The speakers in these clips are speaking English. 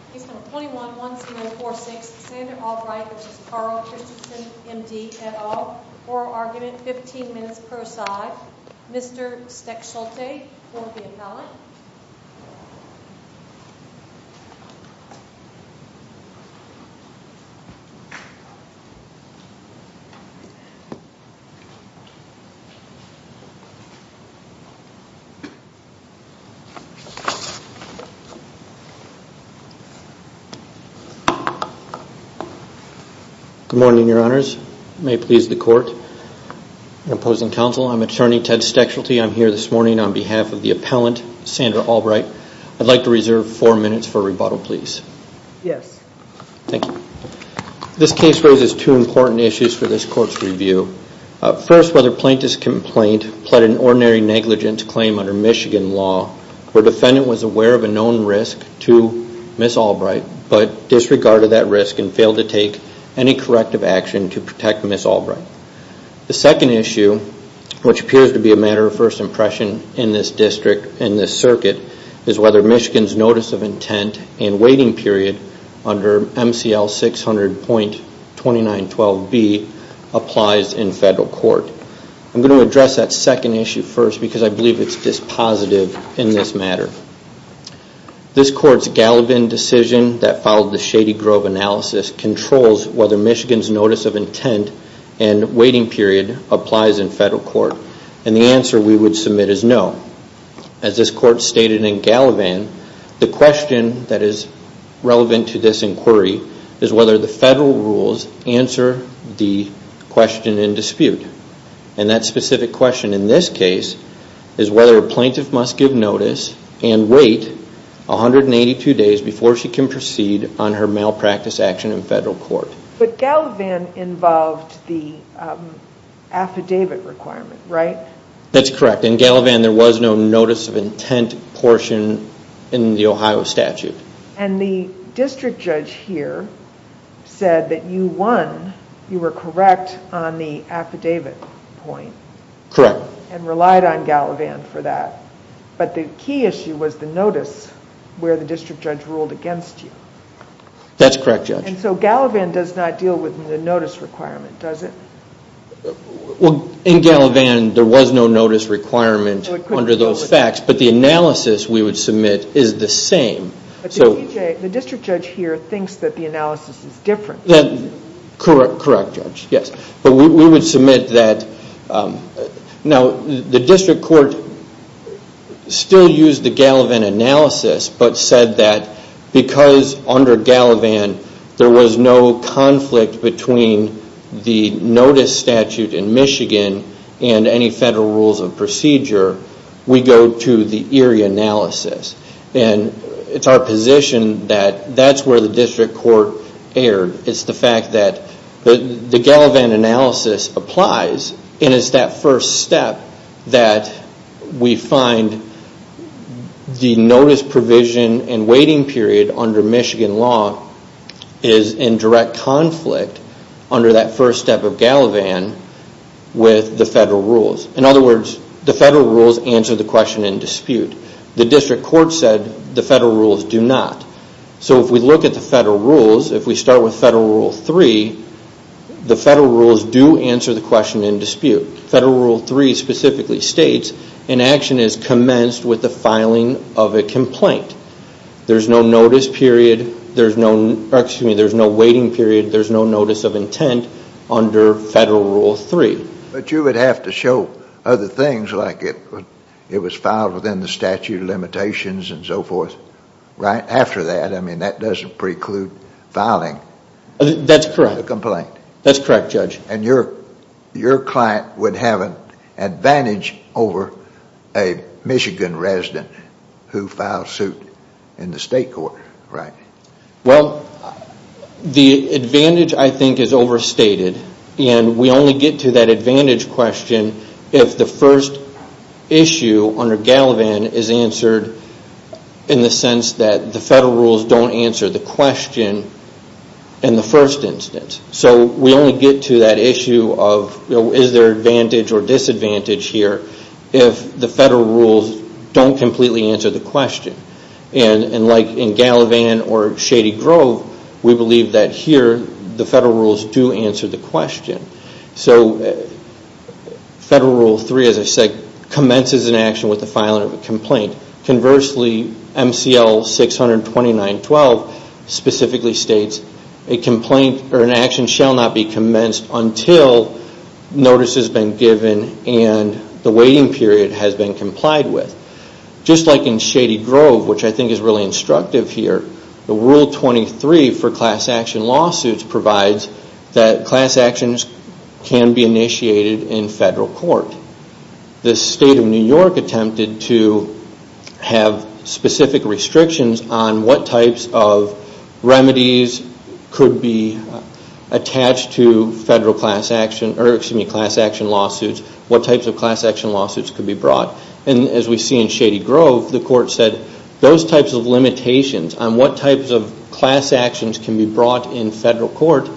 M.D. et al. Oral argument, 15 minutes per side. Mr. Stecholte will be appellant. Good morning, your honors. May it please the court. Opposing counsel, I'm attorney Ted Stecholte. I'm here this morning on behalf of the appellant, Sandra Albright. I'd like to reserve four minutes for rebuttal, please. Yes. Thank you. This case raises two important issues for this court's review. First, whether plaintiff's complaint pled an ordinary negligence claim under Michigan law where defendant was aware of a known risk to Ms. Albright but disregarded that risk and failed to take any corrective action to protect Ms. Albright. The second issue, which appears to be a matter of first impression in this district, in this circuit, is whether Michigan's notice of intent and waiting period under MCL 600.2912B applies in federal court. I'm going to address that second issue first because I believe it's dispositive in this matter. This court's Gallivan decision that followed the Shady Grove analysis controls whether Michigan's notice of intent and waiting period applies in federal court. The answer we would submit is no. As this court stated in Gallivan, the question that And that specific question in this case is whether a plaintiff must give notice and wait 182 days before she can proceed on her malpractice action in federal court. But Gallivan involved the affidavit requirement, right? That's correct. In Gallivan, there was no notice of intent portion in the Ohio statute. And the district judge here said that you won, you were correct on the affidavit point. Correct. And relied on Gallivan for that. But the key issue was the notice where the district judge ruled against you. That's correct, Judge. And so Gallivan does not deal with the notice requirement, does it? In Gallivan, there was no notice requirement under those facts, but the analysis we would submit is the same. The district judge here thinks that the analysis is different. Correct, Judge. Yes. But we would submit that now, the district court still used the Gallivan analysis, but said that because under Gallivan there was no conflict between the notice statute in Michigan and any federal rules of procedure, we go to the Erie analysis. And it's our position that that's where the district court erred. It's the fact that the Gallivan analysis applies, and it's that first step that we find the notice provision and waiting period under Michigan law is in direct conflict under that federal rules answer the question in dispute. The district court said the federal rules do not. So if we look at the federal rules, if we start with Federal Rule 3, the federal rules do answer the question in dispute. Federal Rule 3 specifically states an action is commenced with the filing of a complaint. There's no notice period, there's no waiting period, there's no notice of intent under Federal Rule 3. But you would have to show other things like it was filed within the statute of limitations and so forth right after that. I mean that doesn't preclude filing a complaint. That's correct, Judge. And your client would have an advantage over a Michigan resident who filed suit in the state court, right? Well, the advantage I think is overstated. And we only get to that advantage question if the first issue under Gallivan is answered in the sense that the federal rules don't answer the question in the first instance. So we only get to that issue of is there advantage or disadvantage here if the federal rules don't completely answer the question. And like in Gallivan or Shady Grove, we believe that here the federal rules do answer the question. So Federal Rule 3, as I said, commences an action with the filing of a complaint. Conversely, MCL 629.12 specifically states an action shall not be commenced until notice has been given and the waiting period has been complied with. Just like in Shady Grove, which I think is really instructive here, the Rule 23 for class action lawsuits provides that class actions can be initiated in federal court. The state of New York attempted to have specific restrictions on what types of remedies could be attached to federal class action or excuse me, class action lawsuits, what types of class action lawsuits could be brought. And as we see in Shady Grove, the court said those types of limitations on what types of class actions can be brought in state court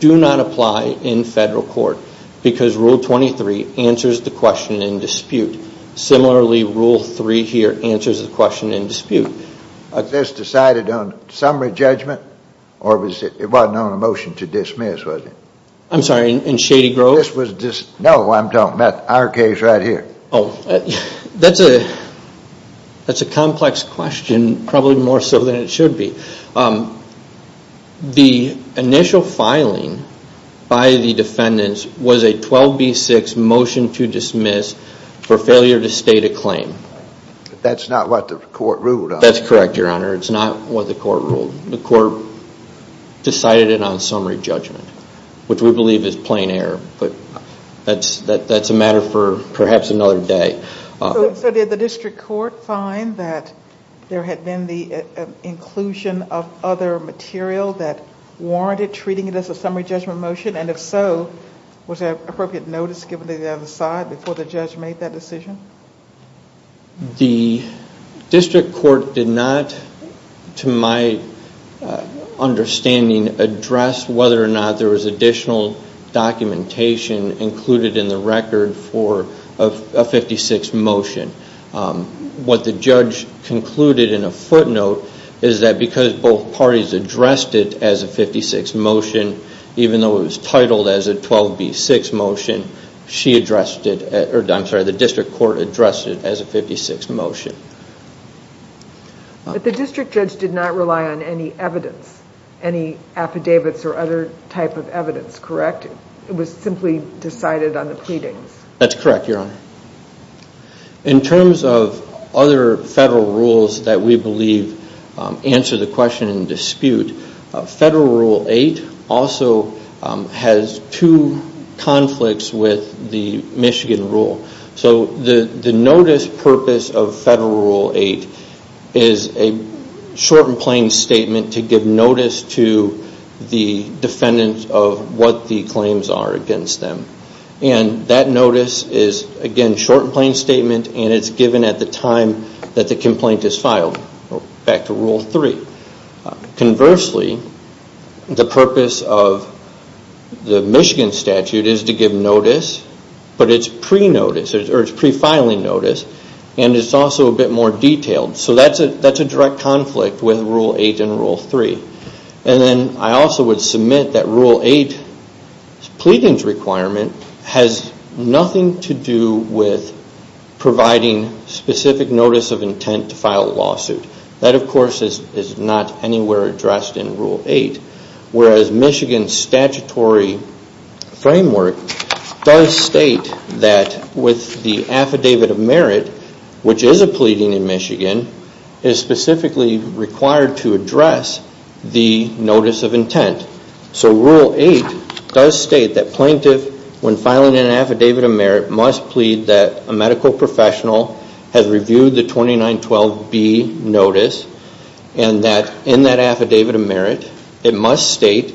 do not apply in federal court because Rule 23 answers the question in dispute. Similarly, Rule 3 here answers the question in dispute. But this decided on summary judgment or it wasn't on a motion to dismiss, was it? I'm sorry, in Shady Grove? No, I'm talking about our case right here. That's a complex question, probably more so than it should be. The initial filing by the defendants was a 12B6 motion to dismiss for failure to state a claim. That's not what the court ruled on. That's correct, your honor. It's not what the court ruled. The court decided it on summary judgment, which we believe is plain error. But that's a matter for perhaps another day. So did the district court find that there had been the inclusion of other material that warranted treating it as a summary judgment motion? And if so, was there appropriate notice given to the other side before the judge made that decision? The district court did not, to my understanding, address whether or not there was additional documentation included in the record for a 56 motion. What the judge concluded in a footnote is that because both parties addressed it as a 56 motion, even though it was titled as a 12B6 motion, the district court addressed it as a 56 motion. But the district judge did not rely on any evidence, any affidavits or other type of evidence, correct? It was simply decided on the pleadings. That's correct, your honor. In terms of other federal rules that we believe answer the question and dispute, Federal Rule 8 also has two conflicts with the Michigan rule. So the notice purpose of Federal Rule 8 is a short and plain statement to give notice to the defendants of what the claims are against them. And that notice is, again, a short and plain statement and it's given at the time that the complaint is filed, back to Rule 3. Conversely, the purpose of the Michigan statute is to give notice, but it's pre-filing notice and it's also a bit more detailed. So that's a direct conflict with Rule 8 and Rule 3. And then I also would submit that Rule 8's pleadings requirement has nothing to do with providing specific notice of intent to file a lawsuit. That, of course, is not anywhere addressed in Rule 8, whereas Michigan's statutory framework does state that with the affidavit of merit, which is a pleading in Michigan, is specifically required to address the notice of intent. So Rule 8 does state that plaintiff, when filing an affidavit of merit, must plead that a medical professional has reviewed the 2912B notice and that in that affidavit of merit, it must state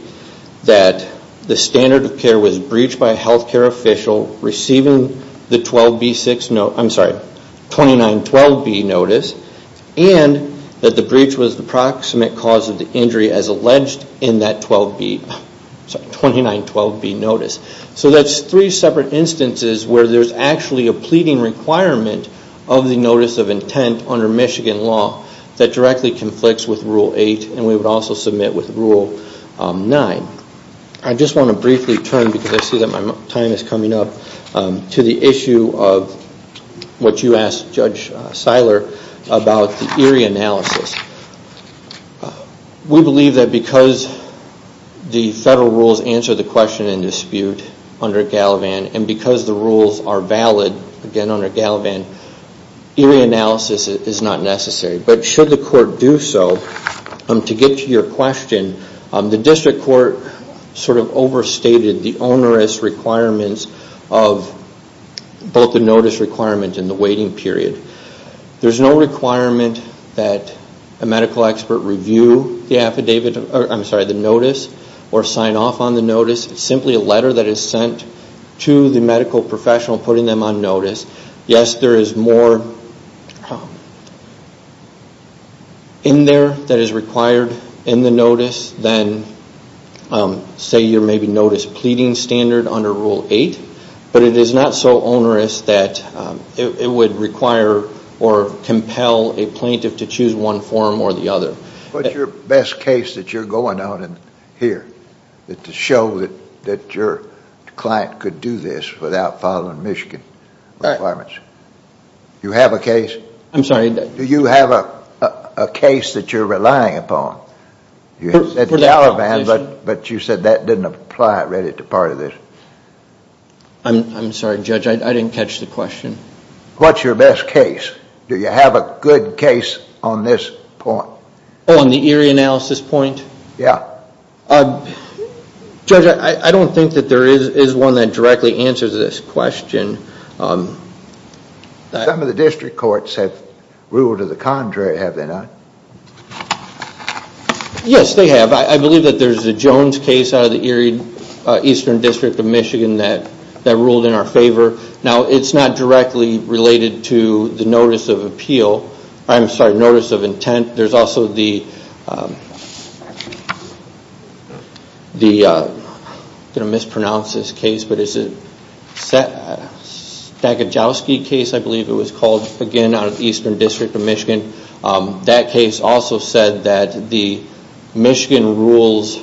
that the standard of care was breached by a health care official receiving the 2912B notice and that the breach was the proximate cause of the injury as alleged in that 2912B notice. So that's three separate instances where there's actually a pleading requirement of the notice of intent under Michigan law that directly conflicts with Rule 8 and we would also submit with Rule 9. I just want to briefly turn, because I see that my time is coming up, to the issue of what you asked Judge Seiler about the eerie analysis. We believe that because the federal rules answer the question and dispute under Galavan and because the rules are valid, again under Galavan, eerie analysis is not necessary. But should the court do so, to get to your question, the district court sort of overstated the onerous requirements of both the notice requirement and the waiting period. There's no requirement that a medical expert review the affidavit, I'm sorry, the notice or sign off on the notice. It's simply a letter that is sent to the medical professional putting them on notice. Yes, there is more in there that is required in the notice than, say, your maybe notice pleading standard under Rule 8, but it is not so onerous that it would require or compel a plaintiff to choose one form or the other. What's your best case that you're going on here to show that your client could do this without following Michigan requirements? Do you have a case? I'm sorry? Do you have a case that you're relying upon? At Galavan, but you said that didn't apply already to part of this. I'm sorry, Judge, I didn't catch the question. What's your best case? Do you have a good case on this point? On the eerie analysis point? Yeah. Judge, I don't think that there is one that directly answers this question. Some of the district courts have ruled to the contrary, have they not? Yes, they have. I believe that there is a Jones case out of the Eerie Eastern District of Michigan that ruled in our favor. Now, it's not directly related to the notice of appeal. I'm sorry, notice of intent. There's also the... I'm going to mispronounce this case, but it's a Stakajowski case, I believe it was called, again, out of the Eastern District of Michigan. That case also said that the Michigan rules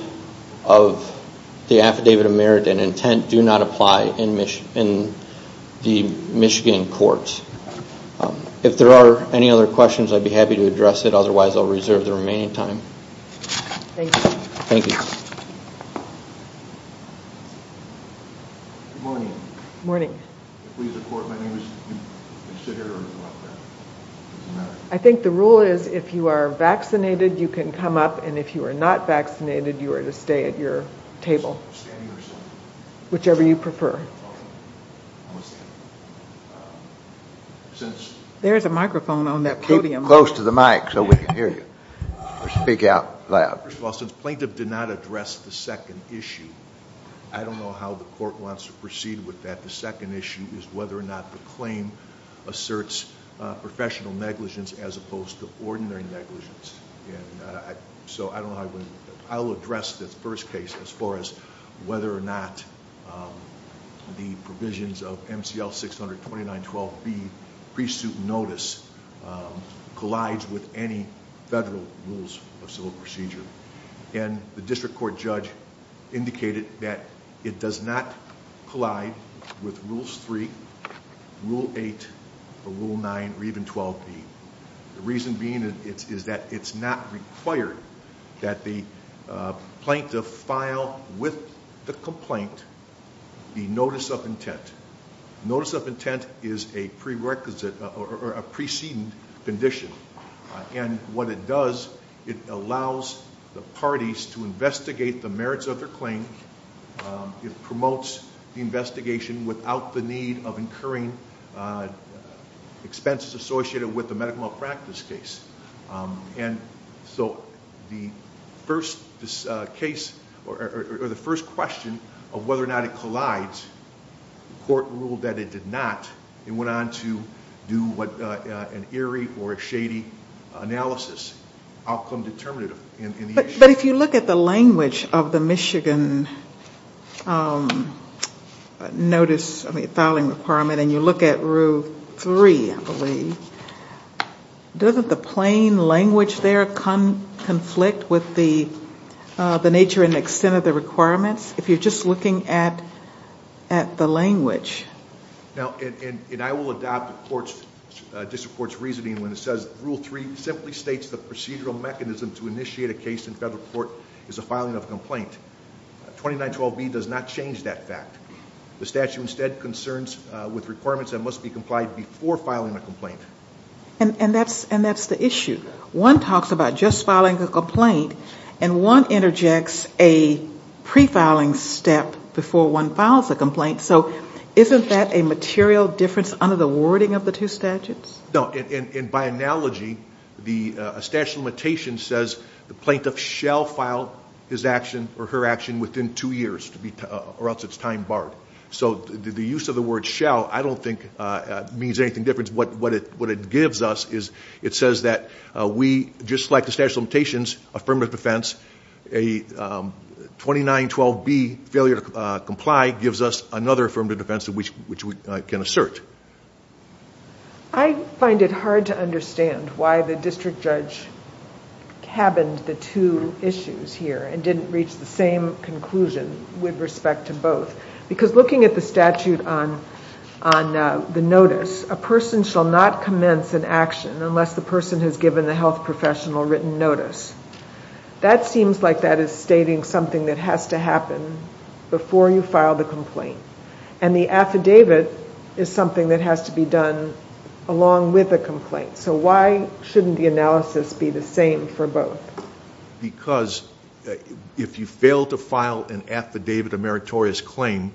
of the affidavit of merit and intent do not apply in the Michigan courts. If there are any other questions, I'd be happy to address it. Otherwise, I'll reserve the remaining time. Thank you. Thank you. Good morning. Good morning. Please report. My name is... You can sit here or you can go up there. It doesn't matter. I think the rule is if you are vaccinated, you can come up, and if you are not vaccinated, you are to stay at your table. Standing or sitting? Whichever you prefer. I'm going to stand. Since... There is a microphone on that podium. Keep close to the mic so we can hear you or speak out loud. Since plaintiff did not address the second issue, I don't know how the court wants to proceed with that. The second issue is whether or not the claim asserts professional negligence as opposed to ordinary negligence. I'll address the first case as far as whether or not the plaintiff filed with the complaint the notice of intent. Notice of intent is a pre-requisite or a preceding condition. What it does, it allows the parties to investigate the merits of their claim. It promotes the investigation without the need of incurring expenses associated with the medical malpractice case. The first question of whether or not it collides, the court ruled that it did not. It went on to do an eerie or a shady analysis. Outcome determinative in the issue. But if you look at the language of the Michigan filing requirement and you look at rule three, I believe, doesn't the plain language there conflict with the nature and extent of the complaint? I will adopt the court's reasoning when it says rule three simply states the procedural mechanism to initiate a case in federal court is a filing of a complaint. 2912B does not change that fact. The statute instead concerns with requirements that must be complied before filing a complaint. And that's the issue. One talks about just filing a complaint and one under the wording of the two statutes? No. And by analogy, the statute of limitations says the plaintiff shall file his action or her action within two years or else it's time barred. So the use of the word shall I don't think means anything different. What it gives us is it says that we just like the statute of limitations affirmative defense, a 2912B failure to comply gives us another affirmative defense which we can assert. I find it hard to understand why the district judge cabined the two issues here and didn't reach the same conclusion with respect to both. Because looking at the statute on the notice, a person shall not commence an action unless the person has given the health professional written notice. That seems like that is stating something that has to happen before you file the complaint. And the affidavit is something that has to be done along with the complaint. So why shouldn't the analysis be the same for both? Because if you fail to file an affidavit of meritorious claim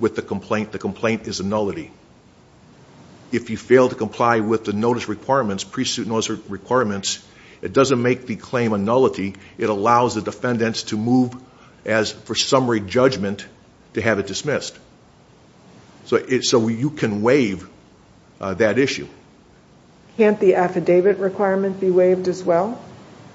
with the complaint, the complaint is a nullity. If you fail to comply with the notice requirements, pre-suit notice requirements, it doesn't make the claim a nullity. It allows the defendants to move as for summary judgment to have it dismissed. So you can waive that issue. Can't the affidavit requirement be waived as well?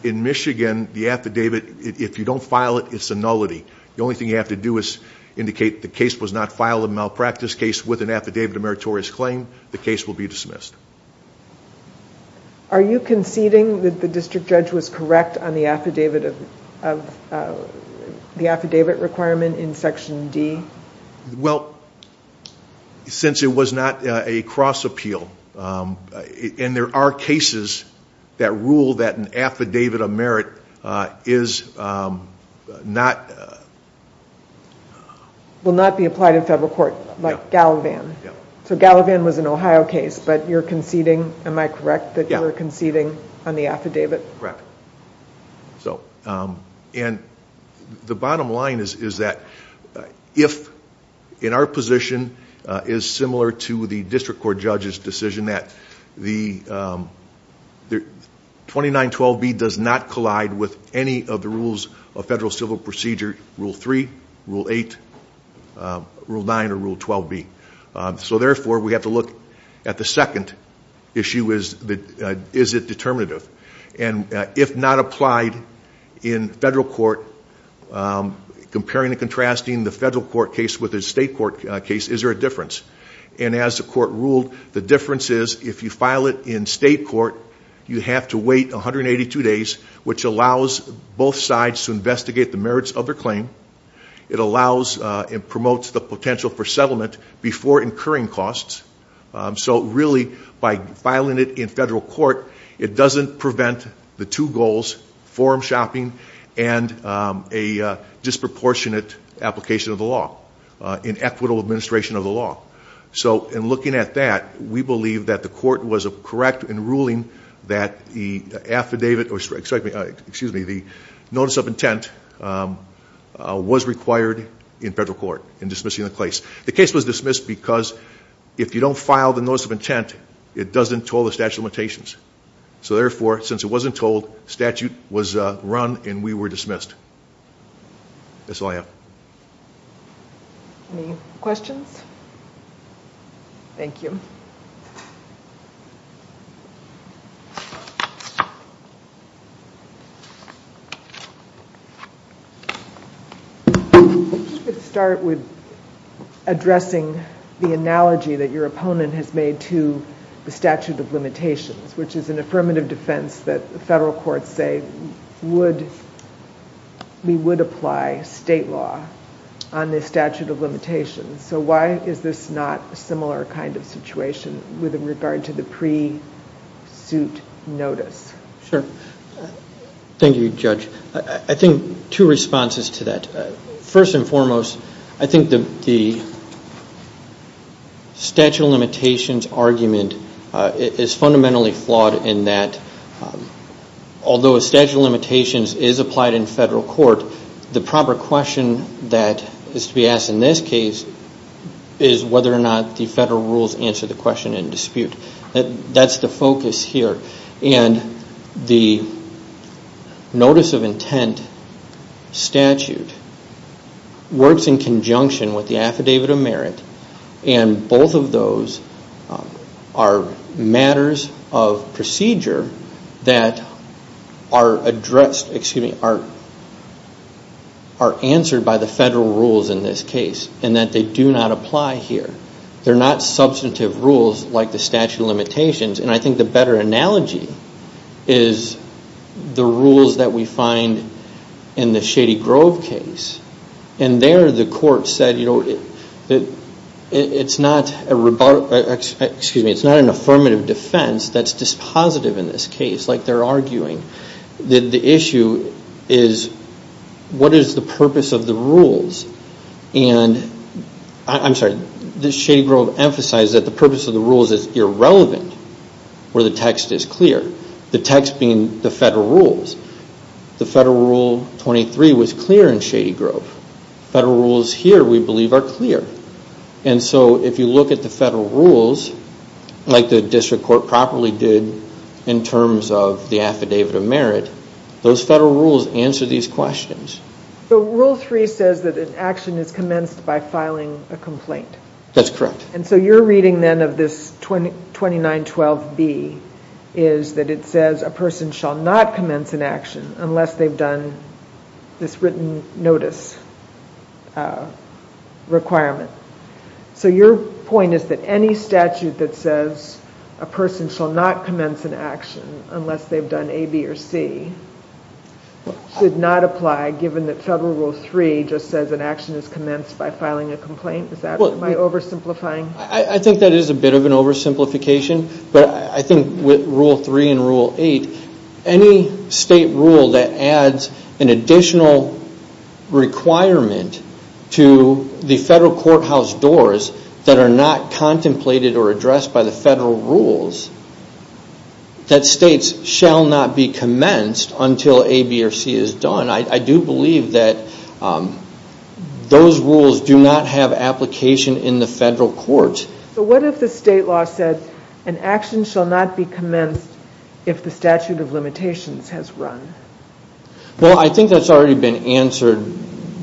In Michigan, the affidavit, if you don't file it, it's a nullity. The only thing you have to do is indicate the case was not filed a malpractice case with an affidavit of meritorious claim, the case will be dismissed. Are you conceding that the district judge was correct on the affidavit requirement in Section D? Well, since it was not a cross appeal, and there are cases that rule that an affidavit of merit is not... You're conceding. Am I correct that you're conceding on the affidavit? Correct. The bottom line is that if in our position is similar to the district court judge's decision that the 2912B does not collide with any of the rules of federal civil procedure, Rule 3, Rule 8, Rule 9, or Rule 12B. So therefore, we have to look at the second issue, is it determinative? And if not applied in federal court, comparing and contrasting the federal court case with a state court case, is there a difference? And as the court ruled, the difference is if you file it in state court, you have to wait 182 days, which allows both sides to investigate the merits of their claim. It allows and promotes the potential for settlement before incurring costs. So really, by filing it in federal court, it doesn't prevent the two goals, forum shopping and a disproportionate application of the law, in equitable administration of the law. So in looking at that, we believe that the court was correct in ruling that the affidavit, excuse me, the notice of intent was required in federal court in dismissing the case. The case was dismissed because if you don't file the notice of intent, it doesn't toll the statute of limitations. So therefore, since it wasn't told, statute was run and we were dismissed. That's all I have. Any questions? Thank you. I'm just going to start with addressing the analogy that your opponent has made to the statute of limitations, which is an affirmative defense that the federal courts say we would apply state law on the statute of limitations. So why is this not a similar kind of situation with regard to the pre-suit notice? Sure. Thank you, Judge. I think two responses to that. First and foremost, I think the statute of limitations argument is fundamentally flawed in that although a statute of limitations is applied in federal court, the proper question that is to be asked in this case is whether or not the federal rules answer the question in dispute. That's the focus here. And the notice of intent statute works in conjunction with the procedure that are addressed, excuse me, are answered by the federal rules in this case and that they do not apply here. They're not substantive rules like the statute of limitations. And I think the better analogy is the rules that we find in the Shady Grove case. And there the court said, you know, it's not a, excuse me, it's not an affirmative defense that's dispositive in this case. Like they're arguing that the issue is what is the purpose of the rules? And I'm sorry, the Shady Grove emphasized that the purpose of the rules is irrelevant where the text is clear. The text being the federal rules. The federal rule 23 was clear in Shady Grove. Federal rules here, we believe, are clear. And so if you look at the federal rules, like the district court properly did in terms of the affidavit of merit, those federal rules answer these questions. So rule 3 says that an action is commenced by filing a complaint. That's correct. And so you're reading then of this 2912B is that it says a person shall not commence an action unless they've done this written notice requirement. So your point is that any statute that says a person shall not commence an action unless they've done A, B, or C should not apply given that federal rule 3 just says an action is commenced by filing a complaint? Is that my oversimplifying? I think that is a bit of an oversimplification. But I think with rule 3 and rule 8, any state rule that adds an additional requirement to the federal courthouse doors that are not contemplated or addressed by the federal rules that states shall not be commenced until A, B, or C is done, I do believe that those rules do not have application in the federal courts. So what if the state law said an action shall not be commenced if the statute of limitations has run? Well, I think that's already been answered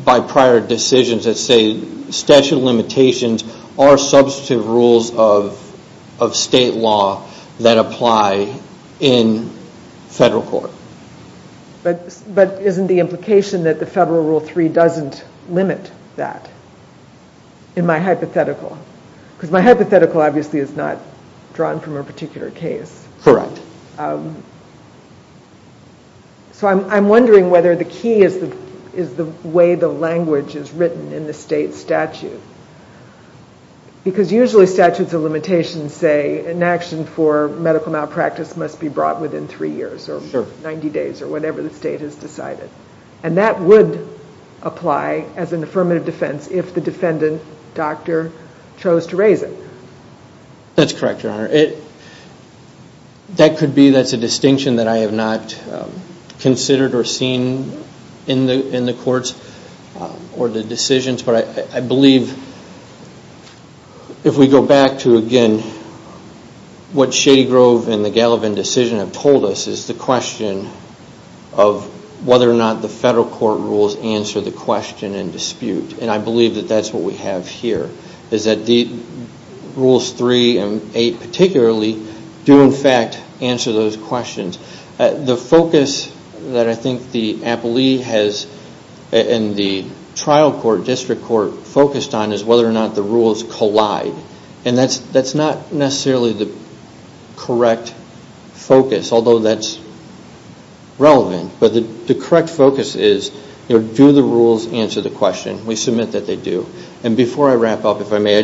by prior decisions that say statute of limitations are substantive rules of state law that apply in federal court. But isn't the implication that the federal rule 3 doesn't limit that in my hypothetical? Because my hypothetical obviously is not drawn from a particular case. Correct. So I'm wondering whether the key is the way the language is written in the state statute. Because usually statutes of limitations say an action for medical malpractice must be brought within three years or 90 days or whatever the state has decided. And that would apply as an doctor chose to raise it. That's correct, Your Honor. That could be that's a distinction that I have not considered or seen in the courts or the decisions. But I believe if we go back to again what Shady Grove and the Gallivan decision have told us is the question of whether or not the federal court rules answer the question and dispute. And I believe that that's what we have here is that the rules 3 and 8 particularly do in fact answer those questions. The focus that I think the appellee has in the trial court district court focused on is whether or not the rules collide. And that's not necessarily the correct focus, although that's relevant. But the correct focus is do the rules answer the question? We submit that they do. And before I wrap up, if I may,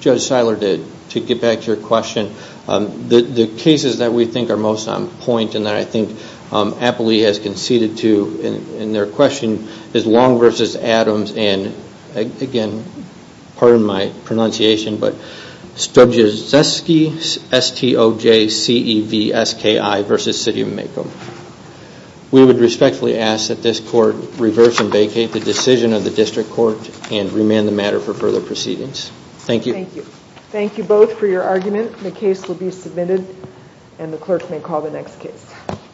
Judge Seiler, to get back to your question, the cases that we think are most on point and that I think appellee has conceded to in their question is Long v. Adams and again, pardon my pronunciation, Stojanski vs. City of Maycomb. We would respectfully ask that this court reverse and vacate the decision of the district court and remand the matter for further proceedings. Thank you. Thank you. Thank you both for your argument. The case will be submitted and the clerk may call the next case.